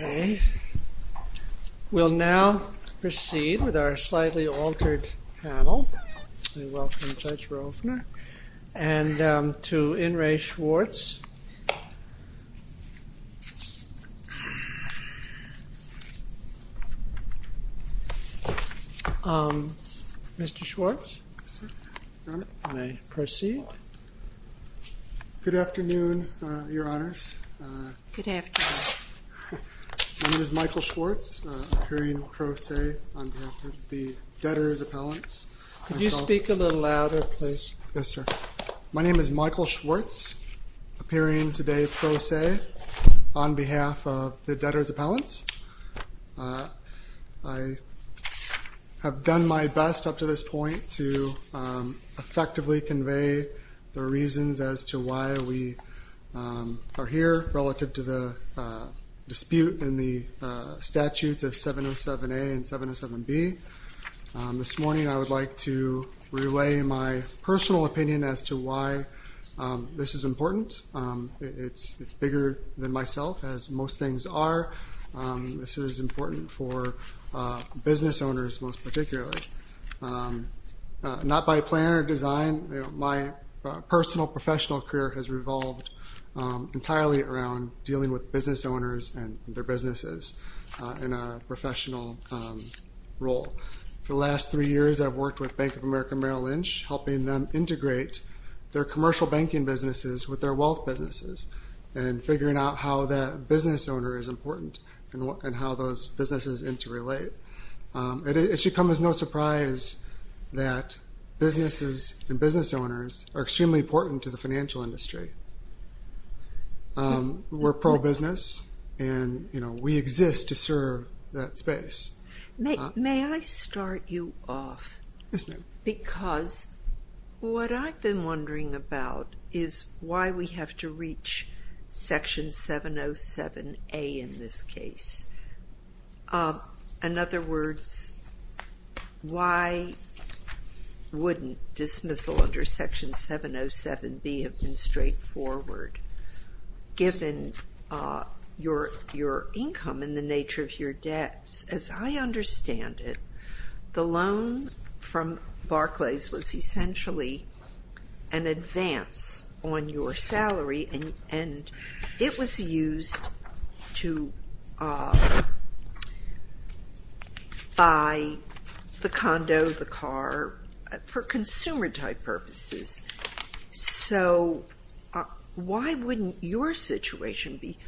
We will now proceed with our slightly altered panel. I welcome Judge Rofner and to Inres to proceed. Good afternoon, Your Honors. Good afternoon. My name is Michael Schwartz, appearing today pro se on behalf of the Debtors' Appellants. Could you speak a little louder, please? Yes, sir. My name is Michael Schwartz, appearing today pro se on behalf of the Debtors' Appellants. I have done my best up to this point to effectively convey the reasons as to why we are here relative to the dispute in the statutes of 707A and 707B. This morning I would like to relay my personal opinion as to why this is important. It's bigger than myself, as most things are. This is important for business owners most particularly. Not by plan or design, my personal professional career has revolved entirely around dealing with business owners and their businesses in a professional role. For the last three years I've worked with Bank of America Merrill Lynch, helping them integrate their commercial banking businesses with their wealth businesses and figuring out how that business owner is important and how those businesses interrelate. It should come as no surprise that businesses and business owners are extremely important to the financial industry. We're pro-business and we exist to serve that space. May I start you off? Yes, ma'am. Because what I've been wondering about is why we have to reach Section 707A in this case. In other words, why wouldn't dismissal under Section 707B have been straightforward given your income and the nature of your debts? As I understand it, the loan from Barclays was essentially an advance on your salary and it was used to buy the condo, the car, for consumer type purposes. So why wouldn't your situation be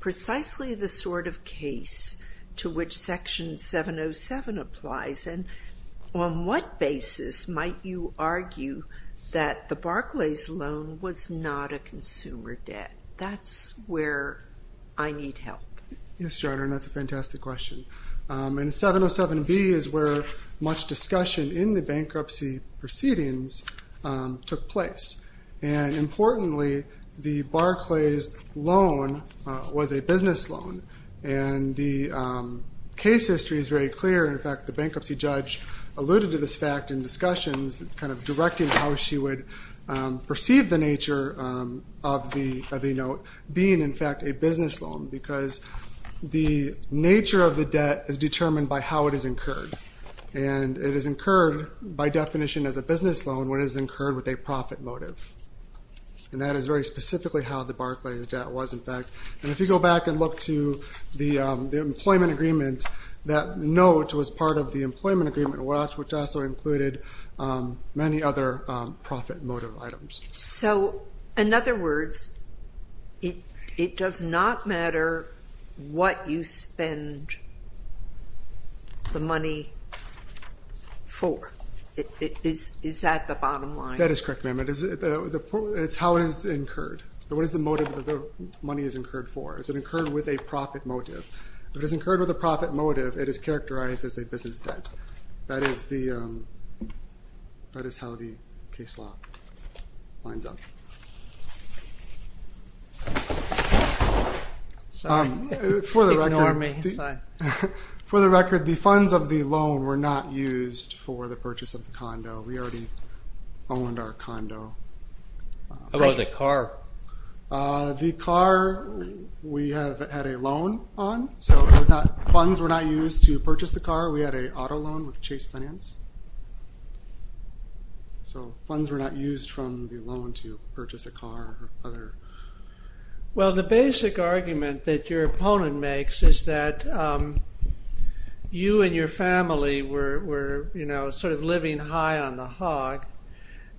precisely the sort of case to which Section 707 applies and on what basis might you argue that the Barclays loan was not a consumer debt? That's where I need help. Yes, Your Honor, and that's a fantastic question. And 707B is where much discussion in the bankruptcy proceedings took place. And importantly, the Barclays loan was a business loan. And the case history is very clear. In fact, the bankruptcy judge alluded to this fact in discussions, kind of directing how she would perceive the nature of the note being, in fact, a business loan. Because the nature of the debt is determined by how it is incurred. And it is incurred by definition as a business loan when it is incurred with a profit motive. And that is very specifically how the Barclays debt was, in fact. And if you go back and look to the employment agreement, that note was part of the employment agreement watch, which also included many other profit motive items. So, in other words, it does not matter what you spend the money for. Is that the bottom line? That is correct, ma'am. It's how it is incurred. What is the motive that the money is incurred for? Is it incurred with a profit motive? If it is incurred with a profit motive, it is characterized as a business debt. That is how the case law lines up. For the record, the funds of the loan were not used for the purchase of the condo. We already owned our condo. How about the car? The car, we have had a loan on. So funds were not used to purchase the car. We had an auto loan with Chase Finance. So funds were not used from the loan to purchase a car. Well, the basic argument that your opponent makes is that you and your family were sort of living high on the hog.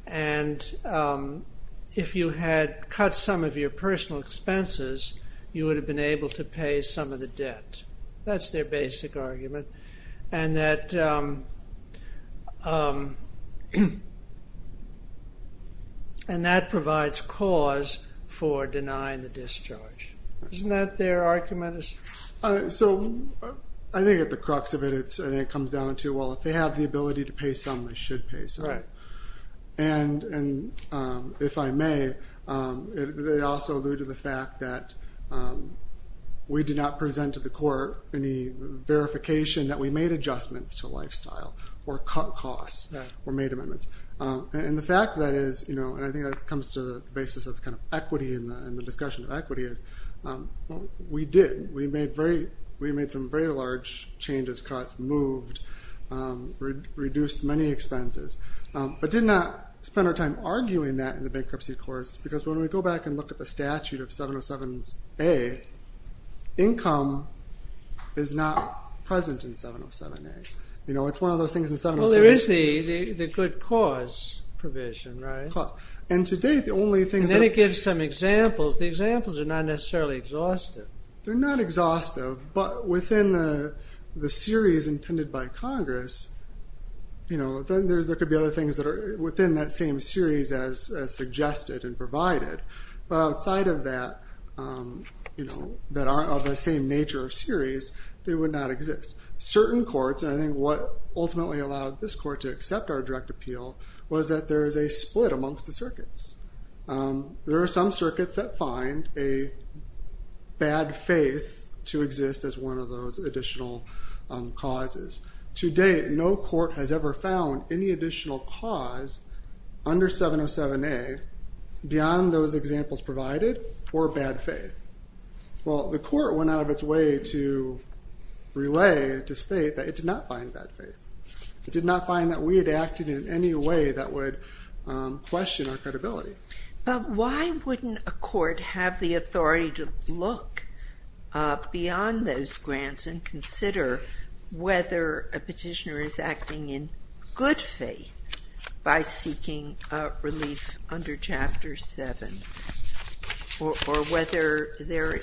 And if you had cut some of your personal expenses, you would have been able to pay some of the debt. That's their basic argument. And that provides cause for denying the discharge. Isn't that their argument? So I think at the crux of it, it comes down to, well, if they have the ability to pay some, they should pay some. And if I may, they also alluded to the fact that we did not present to the court any verification that we made adjustments to lifestyle or cut costs or made amendments. And the fact that is, and I think that comes to the basis of equity and the discussion of equity is, we did. We made some very large changes, cuts, moved, reduced many expenses. But did not spend our time arguing that in the bankruptcy course. Because when we go back and look at the statute of 707A, income is not present in 707A. You know, it's one of those things in 707A. Well, there is the good cause provision, right? And to date, the only thing... And then it gives some examples. The examples are not necessarily exhaustive. They're not exhaustive, but within the series intended by Congress, you know, then there could be other things that are within that same series as suggested and provided. But outside of that, you know, that are of the same nature of series, they would not exist. Certain courts, and I think what ultimately allowed this court to accept our direct appeal, was that there is a split amongst the circuits. There are some circuits that find a bad faith to exist as one of those additional causes. To date, no court has ever found any additional cause under 707A, beyond those examples provided, for bad faith. Well, the court went out of its way to relay, to state that it did not find bad faith. It did not find that we had acted in any way that would question our credibility. But why wouldn't a court have the authority to look beyond those grants and consider whether a petitioner is acting in good faith by seeking relief under Chapter 7? Or whether there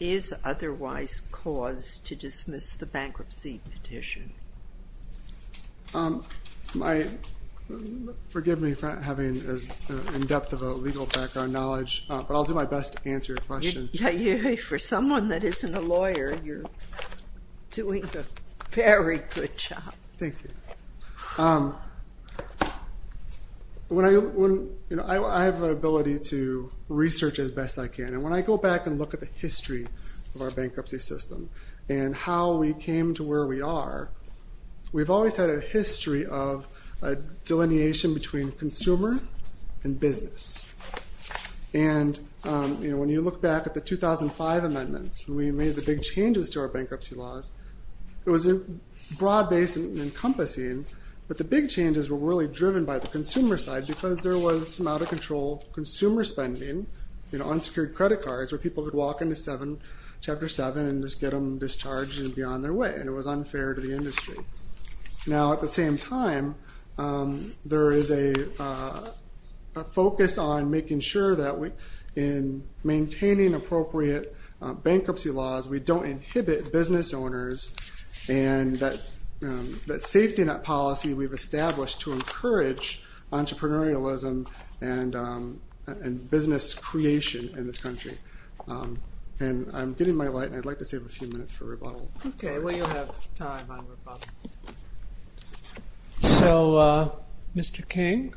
is otherwise cause to dismiss the bankruptcy petition? Forgive me for not having as in-depth of a legal background knowledge, but I'll do my best to answer your question. For someone that isn't a lawyer, you're doing a very good job. Thank you. I have the ability to research as best I can, and when I go back and look at the history of our bankruptcy system, and how we came to where we are, we've always had a history of a delineation between consumer and business. And when you look back at the 2005 amendments, when we made the big changes to our bankruptcy laws, it was broad-based and encompassing, but the big changes were really driven by the consumer side, because there was some out-of-control consumer spending on secured credit cards, where people would walk into Chapter 7 and just get them discharged and be on their way, and it was unfair to the industry. Now, at the same time, there is a focus on making sure that in maintaining appropriate bankruptcy laws, we don't inhibit business owners, and that safety net policy we've established to encourage entrepreneurialism and business creation in this country. And I'm getting my light, and I'd like to save a few minutes for rebuttal. Okay, well, you'll have time on rebuttal. So, Mr. King?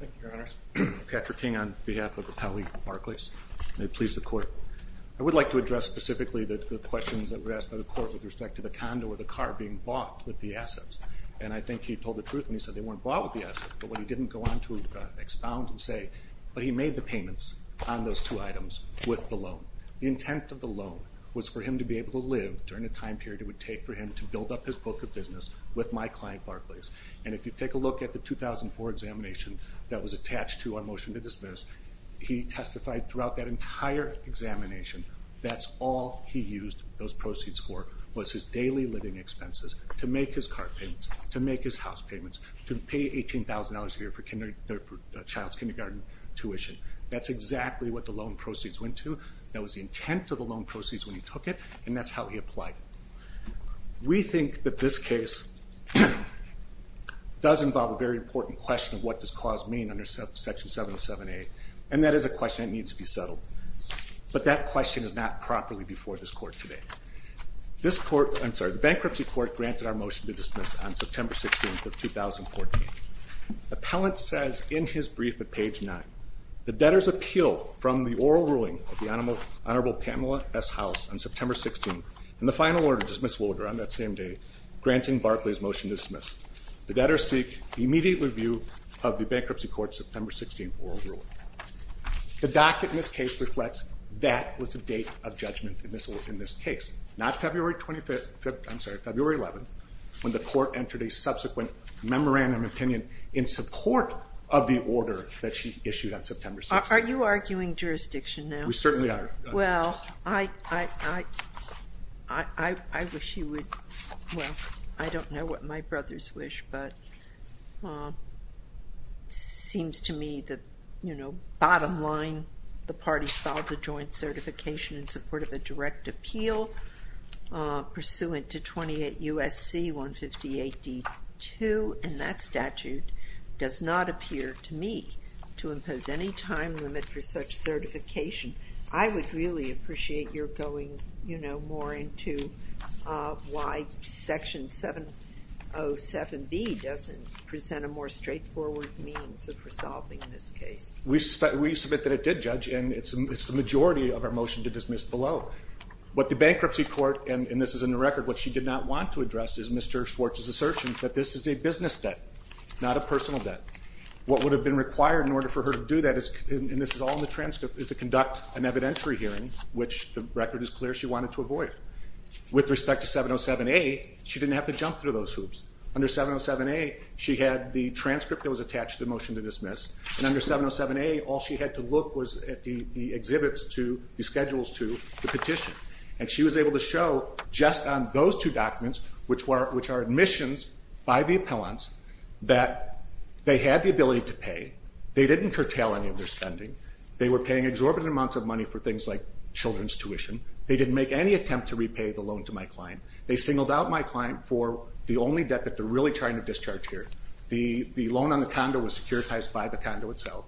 Thank you, Your Honors. Patrick King on behalf of Appellee Barclays. May it please the Court. I would like to address specifically the questions that were asked by the Court with respect to the condo or the car being bought with the assets. And I think he told the truth when he said they weren't bought with the assets, but what he didn't go on to expound and say, but he made the payments on those two items with the loan. The intent of the loan was for him to be able to live during the time period it would take for him to build up his book of business with my client, Barclays. And if you take a look at the 2004 examination that was attached to our motion to dismiss, he testified throughout that entire examination that all he used those proceeds for was his daily living expenses to make his car payments, to make his house payments, to pay $18,000 a year for child's kindergarten tuition. That's exactly what the loan proceeds went to. That was the intent of the loan proceeds when he took it, and that's how he applied it. We think that this case does involve a very important question of what does cause mean under Section 707A, and that is a question that needs to be settled. But that question is not properly before this Court today. This Court, I'm sorry, the Bankruptcy Court granted our motion to dismiss on September 16th of 2014. Appellant says in his brief at page 9, The debtors appeal from the oral ruling of the Honorable Pamela S. House on September 16th and the final order to dismiss will occur on that same day, granting Barclays' motion to dismiss. The debtors seek immediate review of the Bankruptcy Court's September 16th oral ruling. The docket in this case reflects that was the date of judgment in this case, not February 25th, I'm sorry, February 11th, when the Court entered a subsequent memorandum of opinion in support of the order that she issued on September 16th. Are you arguing jurisdiction now? We certainly are. Well, I wish you would, well, I don't know what my brothers wish, but it seems to me that, you know, bottom line, the party filed a joint certification in support of a direct appeal pursuant to 28 U.S.C. 158 D. 2, and that statute does not appear to me to impose any time limit for such certification. I would really appreciate your going, you know, more into why Section 707B doesn't present a more straightforward means of resolving this case. We submit that it did, Judge, and it's the majority of our motion to dismiss below. What the Bankruptcy Court, and this is in the record, what she did not want to address is Mr. Schwartz's assertion that this is a business debt, not a personal debt. What would have been required in order for her to do that, and this is all in the transcript, is to conduct an evidentiary hearing, which the record is clear she wanted to avoid. With respect to 707A, she didn't have to jump through those hoops. Under 707A, she had the transcript that was attached to the motion to dismiss, and under 707A, all she had to look was at the exhibits to the schedules to the petition, and she was able to show just on those two documents, which are admissions by the appellants, that they had the ability to pay. They didn't curtail any of their spending. They were paying exorbitant amounts of money for things like children's tuition. They didn't make any attempt to repay the loan to my client. They singled out my client for the only debt that they're really trying to discharge here. The loan on the condo was securitized by the condo itself,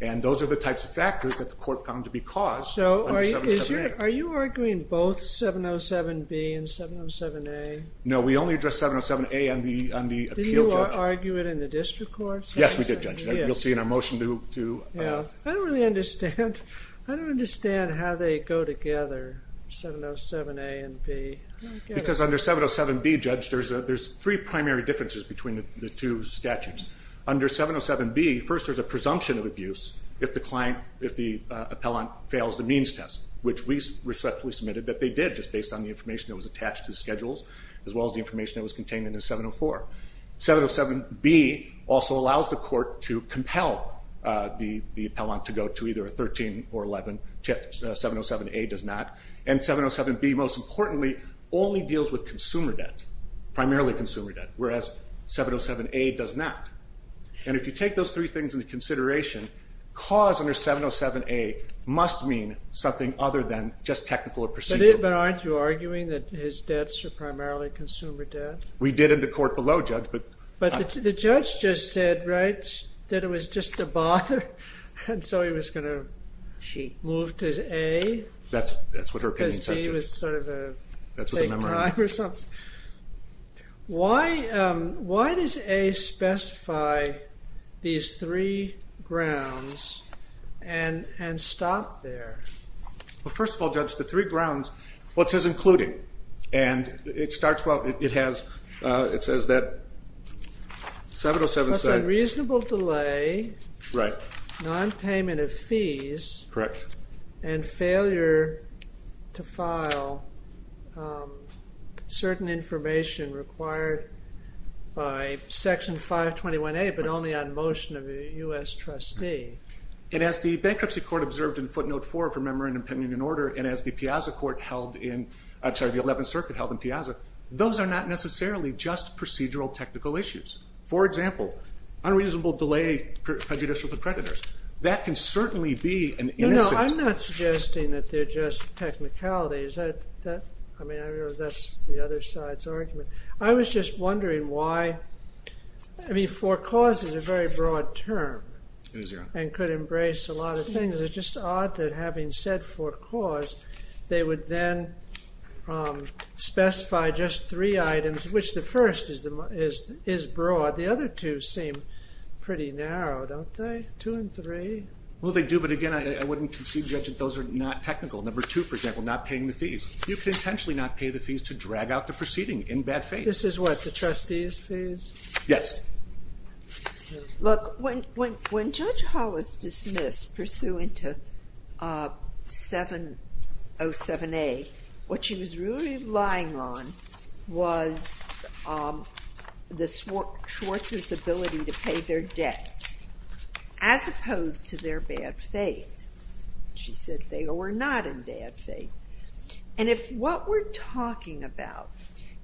and those are the types of factors that the court found to be caused under 707A. So are you arguing both 707B and 707A? No, we only addressed 707A on the appeal, Judge. Did you argue it in the district court? Yes, we did, Judge. You'll see in our motion to... I don't really understand. I don't understand how they go together, 707A and B. Because under 707B, Judge, there's three primary differences between the two statutes. Under 707B, first there's a presumption of abuse if the client, if the appellant, fails the means test, which we respectfully submitted that they did, just based on the information that was attached to the schedules, as well as the information that was contained in 704. 707B also allows the court to compel the appellant to go to either a 13 or 11. 707A does not. And 707B, most importantly, only deals with consumer debt, primarily consumer debt, whereas 707A does not. And if you take those three things into consideration, cause under 707A must mean something other than just technical or procedural. But aren't you arguing that his debts are primarily consumer debt? We did in the court below, Judge. But the judge just said, right, that it was just to bother, and so he was going to move to A. That's what her opinion says. Because D was sort of a take time or something. Why does A specify these three grounds and stop there? Well, first of all, Judge, the three grounds, well, it says including. And it starts, well, it has, it says that 707A. That's unreasonable delay. Right. Nonpayment of fees. Correct. And failure to file certain information required by Section 521A, but only on motion of a U.S. trustee. And as the Bankruptcy Court observed in footnote 4 from Memorandum, Pending and Order, and as the 11th Circuit held in Piazza, those are not necessarily just procedural technical issues. For example, unreasonable delay prejudicial to creditors. That can certainly be an incident. No, I'm not suggesting that they're just technicalities. I mean, that's the other side's argument. I was just wondering why, I mean, for cause is a very broad term. It is, Your Honor. And could embrace a lot of things. It's just odd that having said for cause, they would then specify just three items, which the first is broad. The other two seem pretty narrow, don't they? Two and three. Well, they do, but again, I wouldn't concede, Judge, that those are not technical. Number two, for example, not paying the fees. You could intentionally not pay the fees to drag out the proceeding in bad faith. This is what, the trustees' fees? Yes. Look, when Judge Hollis dismissed pursuant to 707A, what she was really relying on was Schwartz's ability to pay their debts. As opposed to their bad faith. She said they were not in bad faith. And if what we're talking about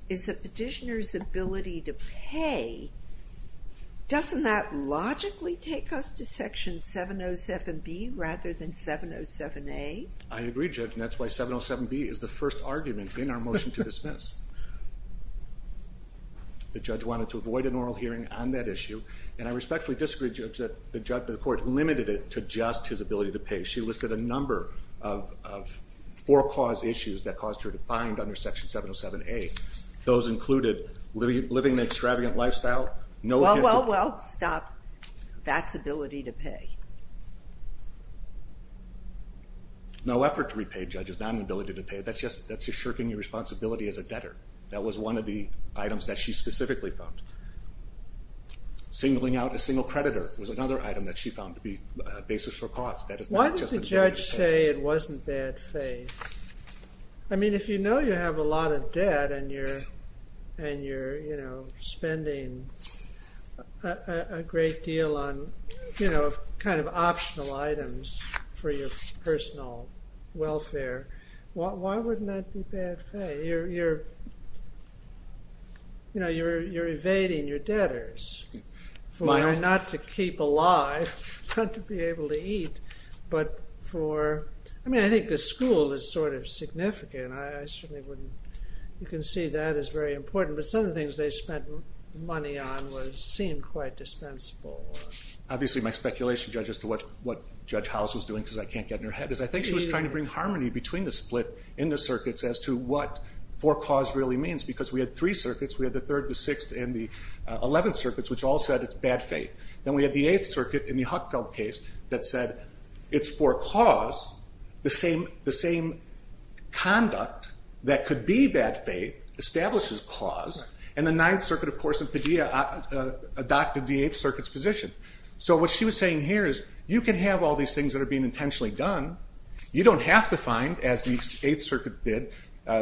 is a petitioner's ability to pay, doesn't that logically take us to Section 707B rather than 707A? I agree, Judge, and that's why 707B is the first argument in our motion to dismiss. The judge wanted to avoid an oral hearing on that issue, and I respectfully disagree, Judge, that the court limited it to just his ability to pay. She listed a number of for-cause issues that caused her to find under Section 707A. Those included living an extravagant lifestyle. Well, well, well, stop. That's ability to pay. No effort to repay, Judge. It's not an ability to pay. That's just shirking your responsibility as a debtor. That was one of the items that she specifically found. Singling out a single creditor was another item that she found to be a basis for cause. Why did the judge say it wasn't bad faith? I mean, if you know you have a lot of debt, and you're spending a great deal on kind of optional items for your personal welfare, why wouldn't that be bad faith? You know, you're evading your debtors for not to keep alive, not to be able to eat, but for, I mean, I think the school is sort of significant. I certainly wouldn't, you can see that is very important, but some of the things they spent money on seemed quite dispensable. Obviously, my speculation, Judge, as to what Judge House was doing, because I can't get in her head, because I think she was trying to bring harmony between the split in the circuits as to what for cause really means, because we had three circuits. We had the 3rd, the 6th, and the 11th circuits, which all said it's bad faith. Then we had the 8th circuit in the Huckfeld case that said it's for cause. The same conduct that could be bad faith establishes cause, and the 9th circuit, of course, in Padilla adopted the 8th circuit's position. So what she was saying here is you can have all these things that are being intentionally done. You don't have to find, as the 8th circuit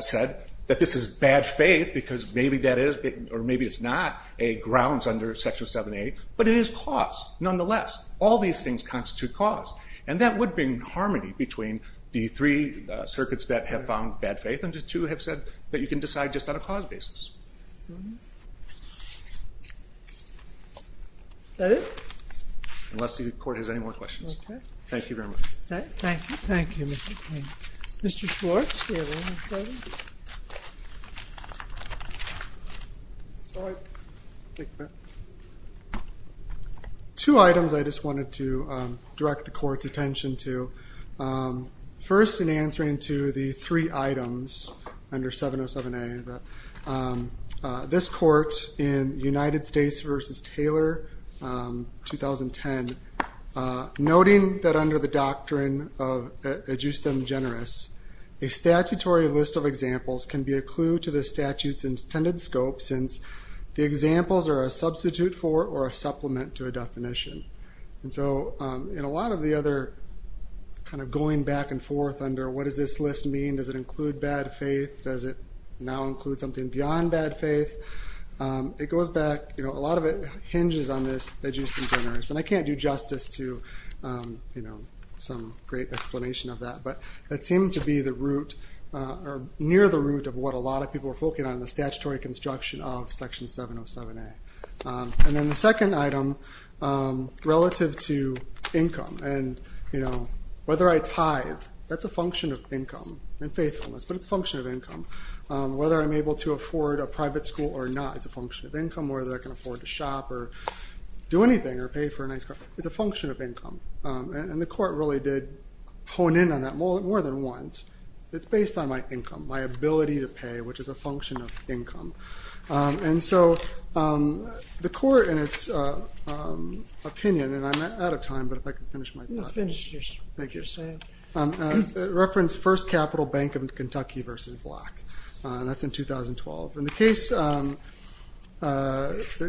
said, that this is bad faith because maybe that is or maybe it's not grounds under Section 7a, but it is cause nonetheless. All these things constitute cause, and that would bring harmony between the three circuits that have found bad faith and the two have said that you can decide just on a cause basis. Is that it? Unless the Court has any more questions. Okay. Thank you very much. Thank you. Thank you, Mr. King. Mr. Schwartz, do you have anything further? Sorry. Two items I just wanted to direct the Court's attention to. First, in answering to the three items under 707A, this Court in United States v. Taylor, 2010, noting that under the doctrine of ad justem generis, a statutory list of examples can be a clue to the statute's intended scope since the examples are a substitute for or a supplement to a definition. In a lot of the other going back and forth under what does this list mean, does it include bad faith, does it now include something beyond bad faith, it goes back, a lot of it hinges on this ad justem generis, and I can't do justice to some great explanation of that, but that seemed to be near the root of what a lot of people were focusing on, the statutory construction of Section 707A. And then the second item, relative to income, and whether I tithe, that's a function of income and faithfulness, but it's a function of income. Whether I'm able to afford a private school or not is a function of income. Whether I can afford to shop or do anything or pay for a nice car, it's a function of income. And the Court really did hone in on that more than once. It's based on my income, my ability to pay, which is a function of income. And so the Court, in its opinion, and I'm out of time, but if I could finish my thoughts. You can finish what you're saying. It referenced First Capital Bank of Kentucky v. Black. That's in 2012. And the case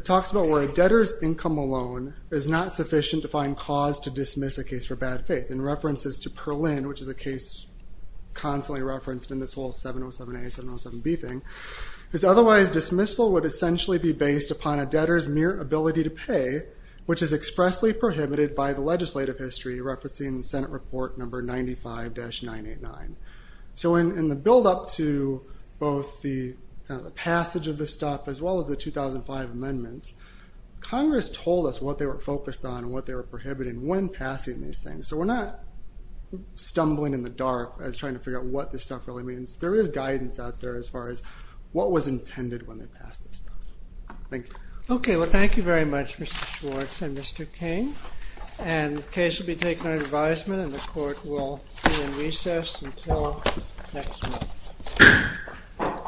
talks about where a debtor's income alone is not sufficient to find cause to dismiss a case for bad faith. And references to Perlin, which is a case constantly referenced in this whole 707A, 707B thing, is otherwise dismissal would essentially be based upon a debtor's mere ability to pay, which is expressly prohibited by the legislative history, referencing Senate Report No. 95-989. So in the buildup to both the passage of this stuff as well as the 2005 amendments, Congress told us what they were focused on and what they were prohibiting when passing these things. So we're not stumbling in the dark as trying to figure out what this stuff really means. There is guidance out there as far as what was intended when they passed this stuff. Thank you. Okay, well thank you very much, Mr. Schwartz and Mr. King. And the case will be taken under advisement and the court will be in recess until next month.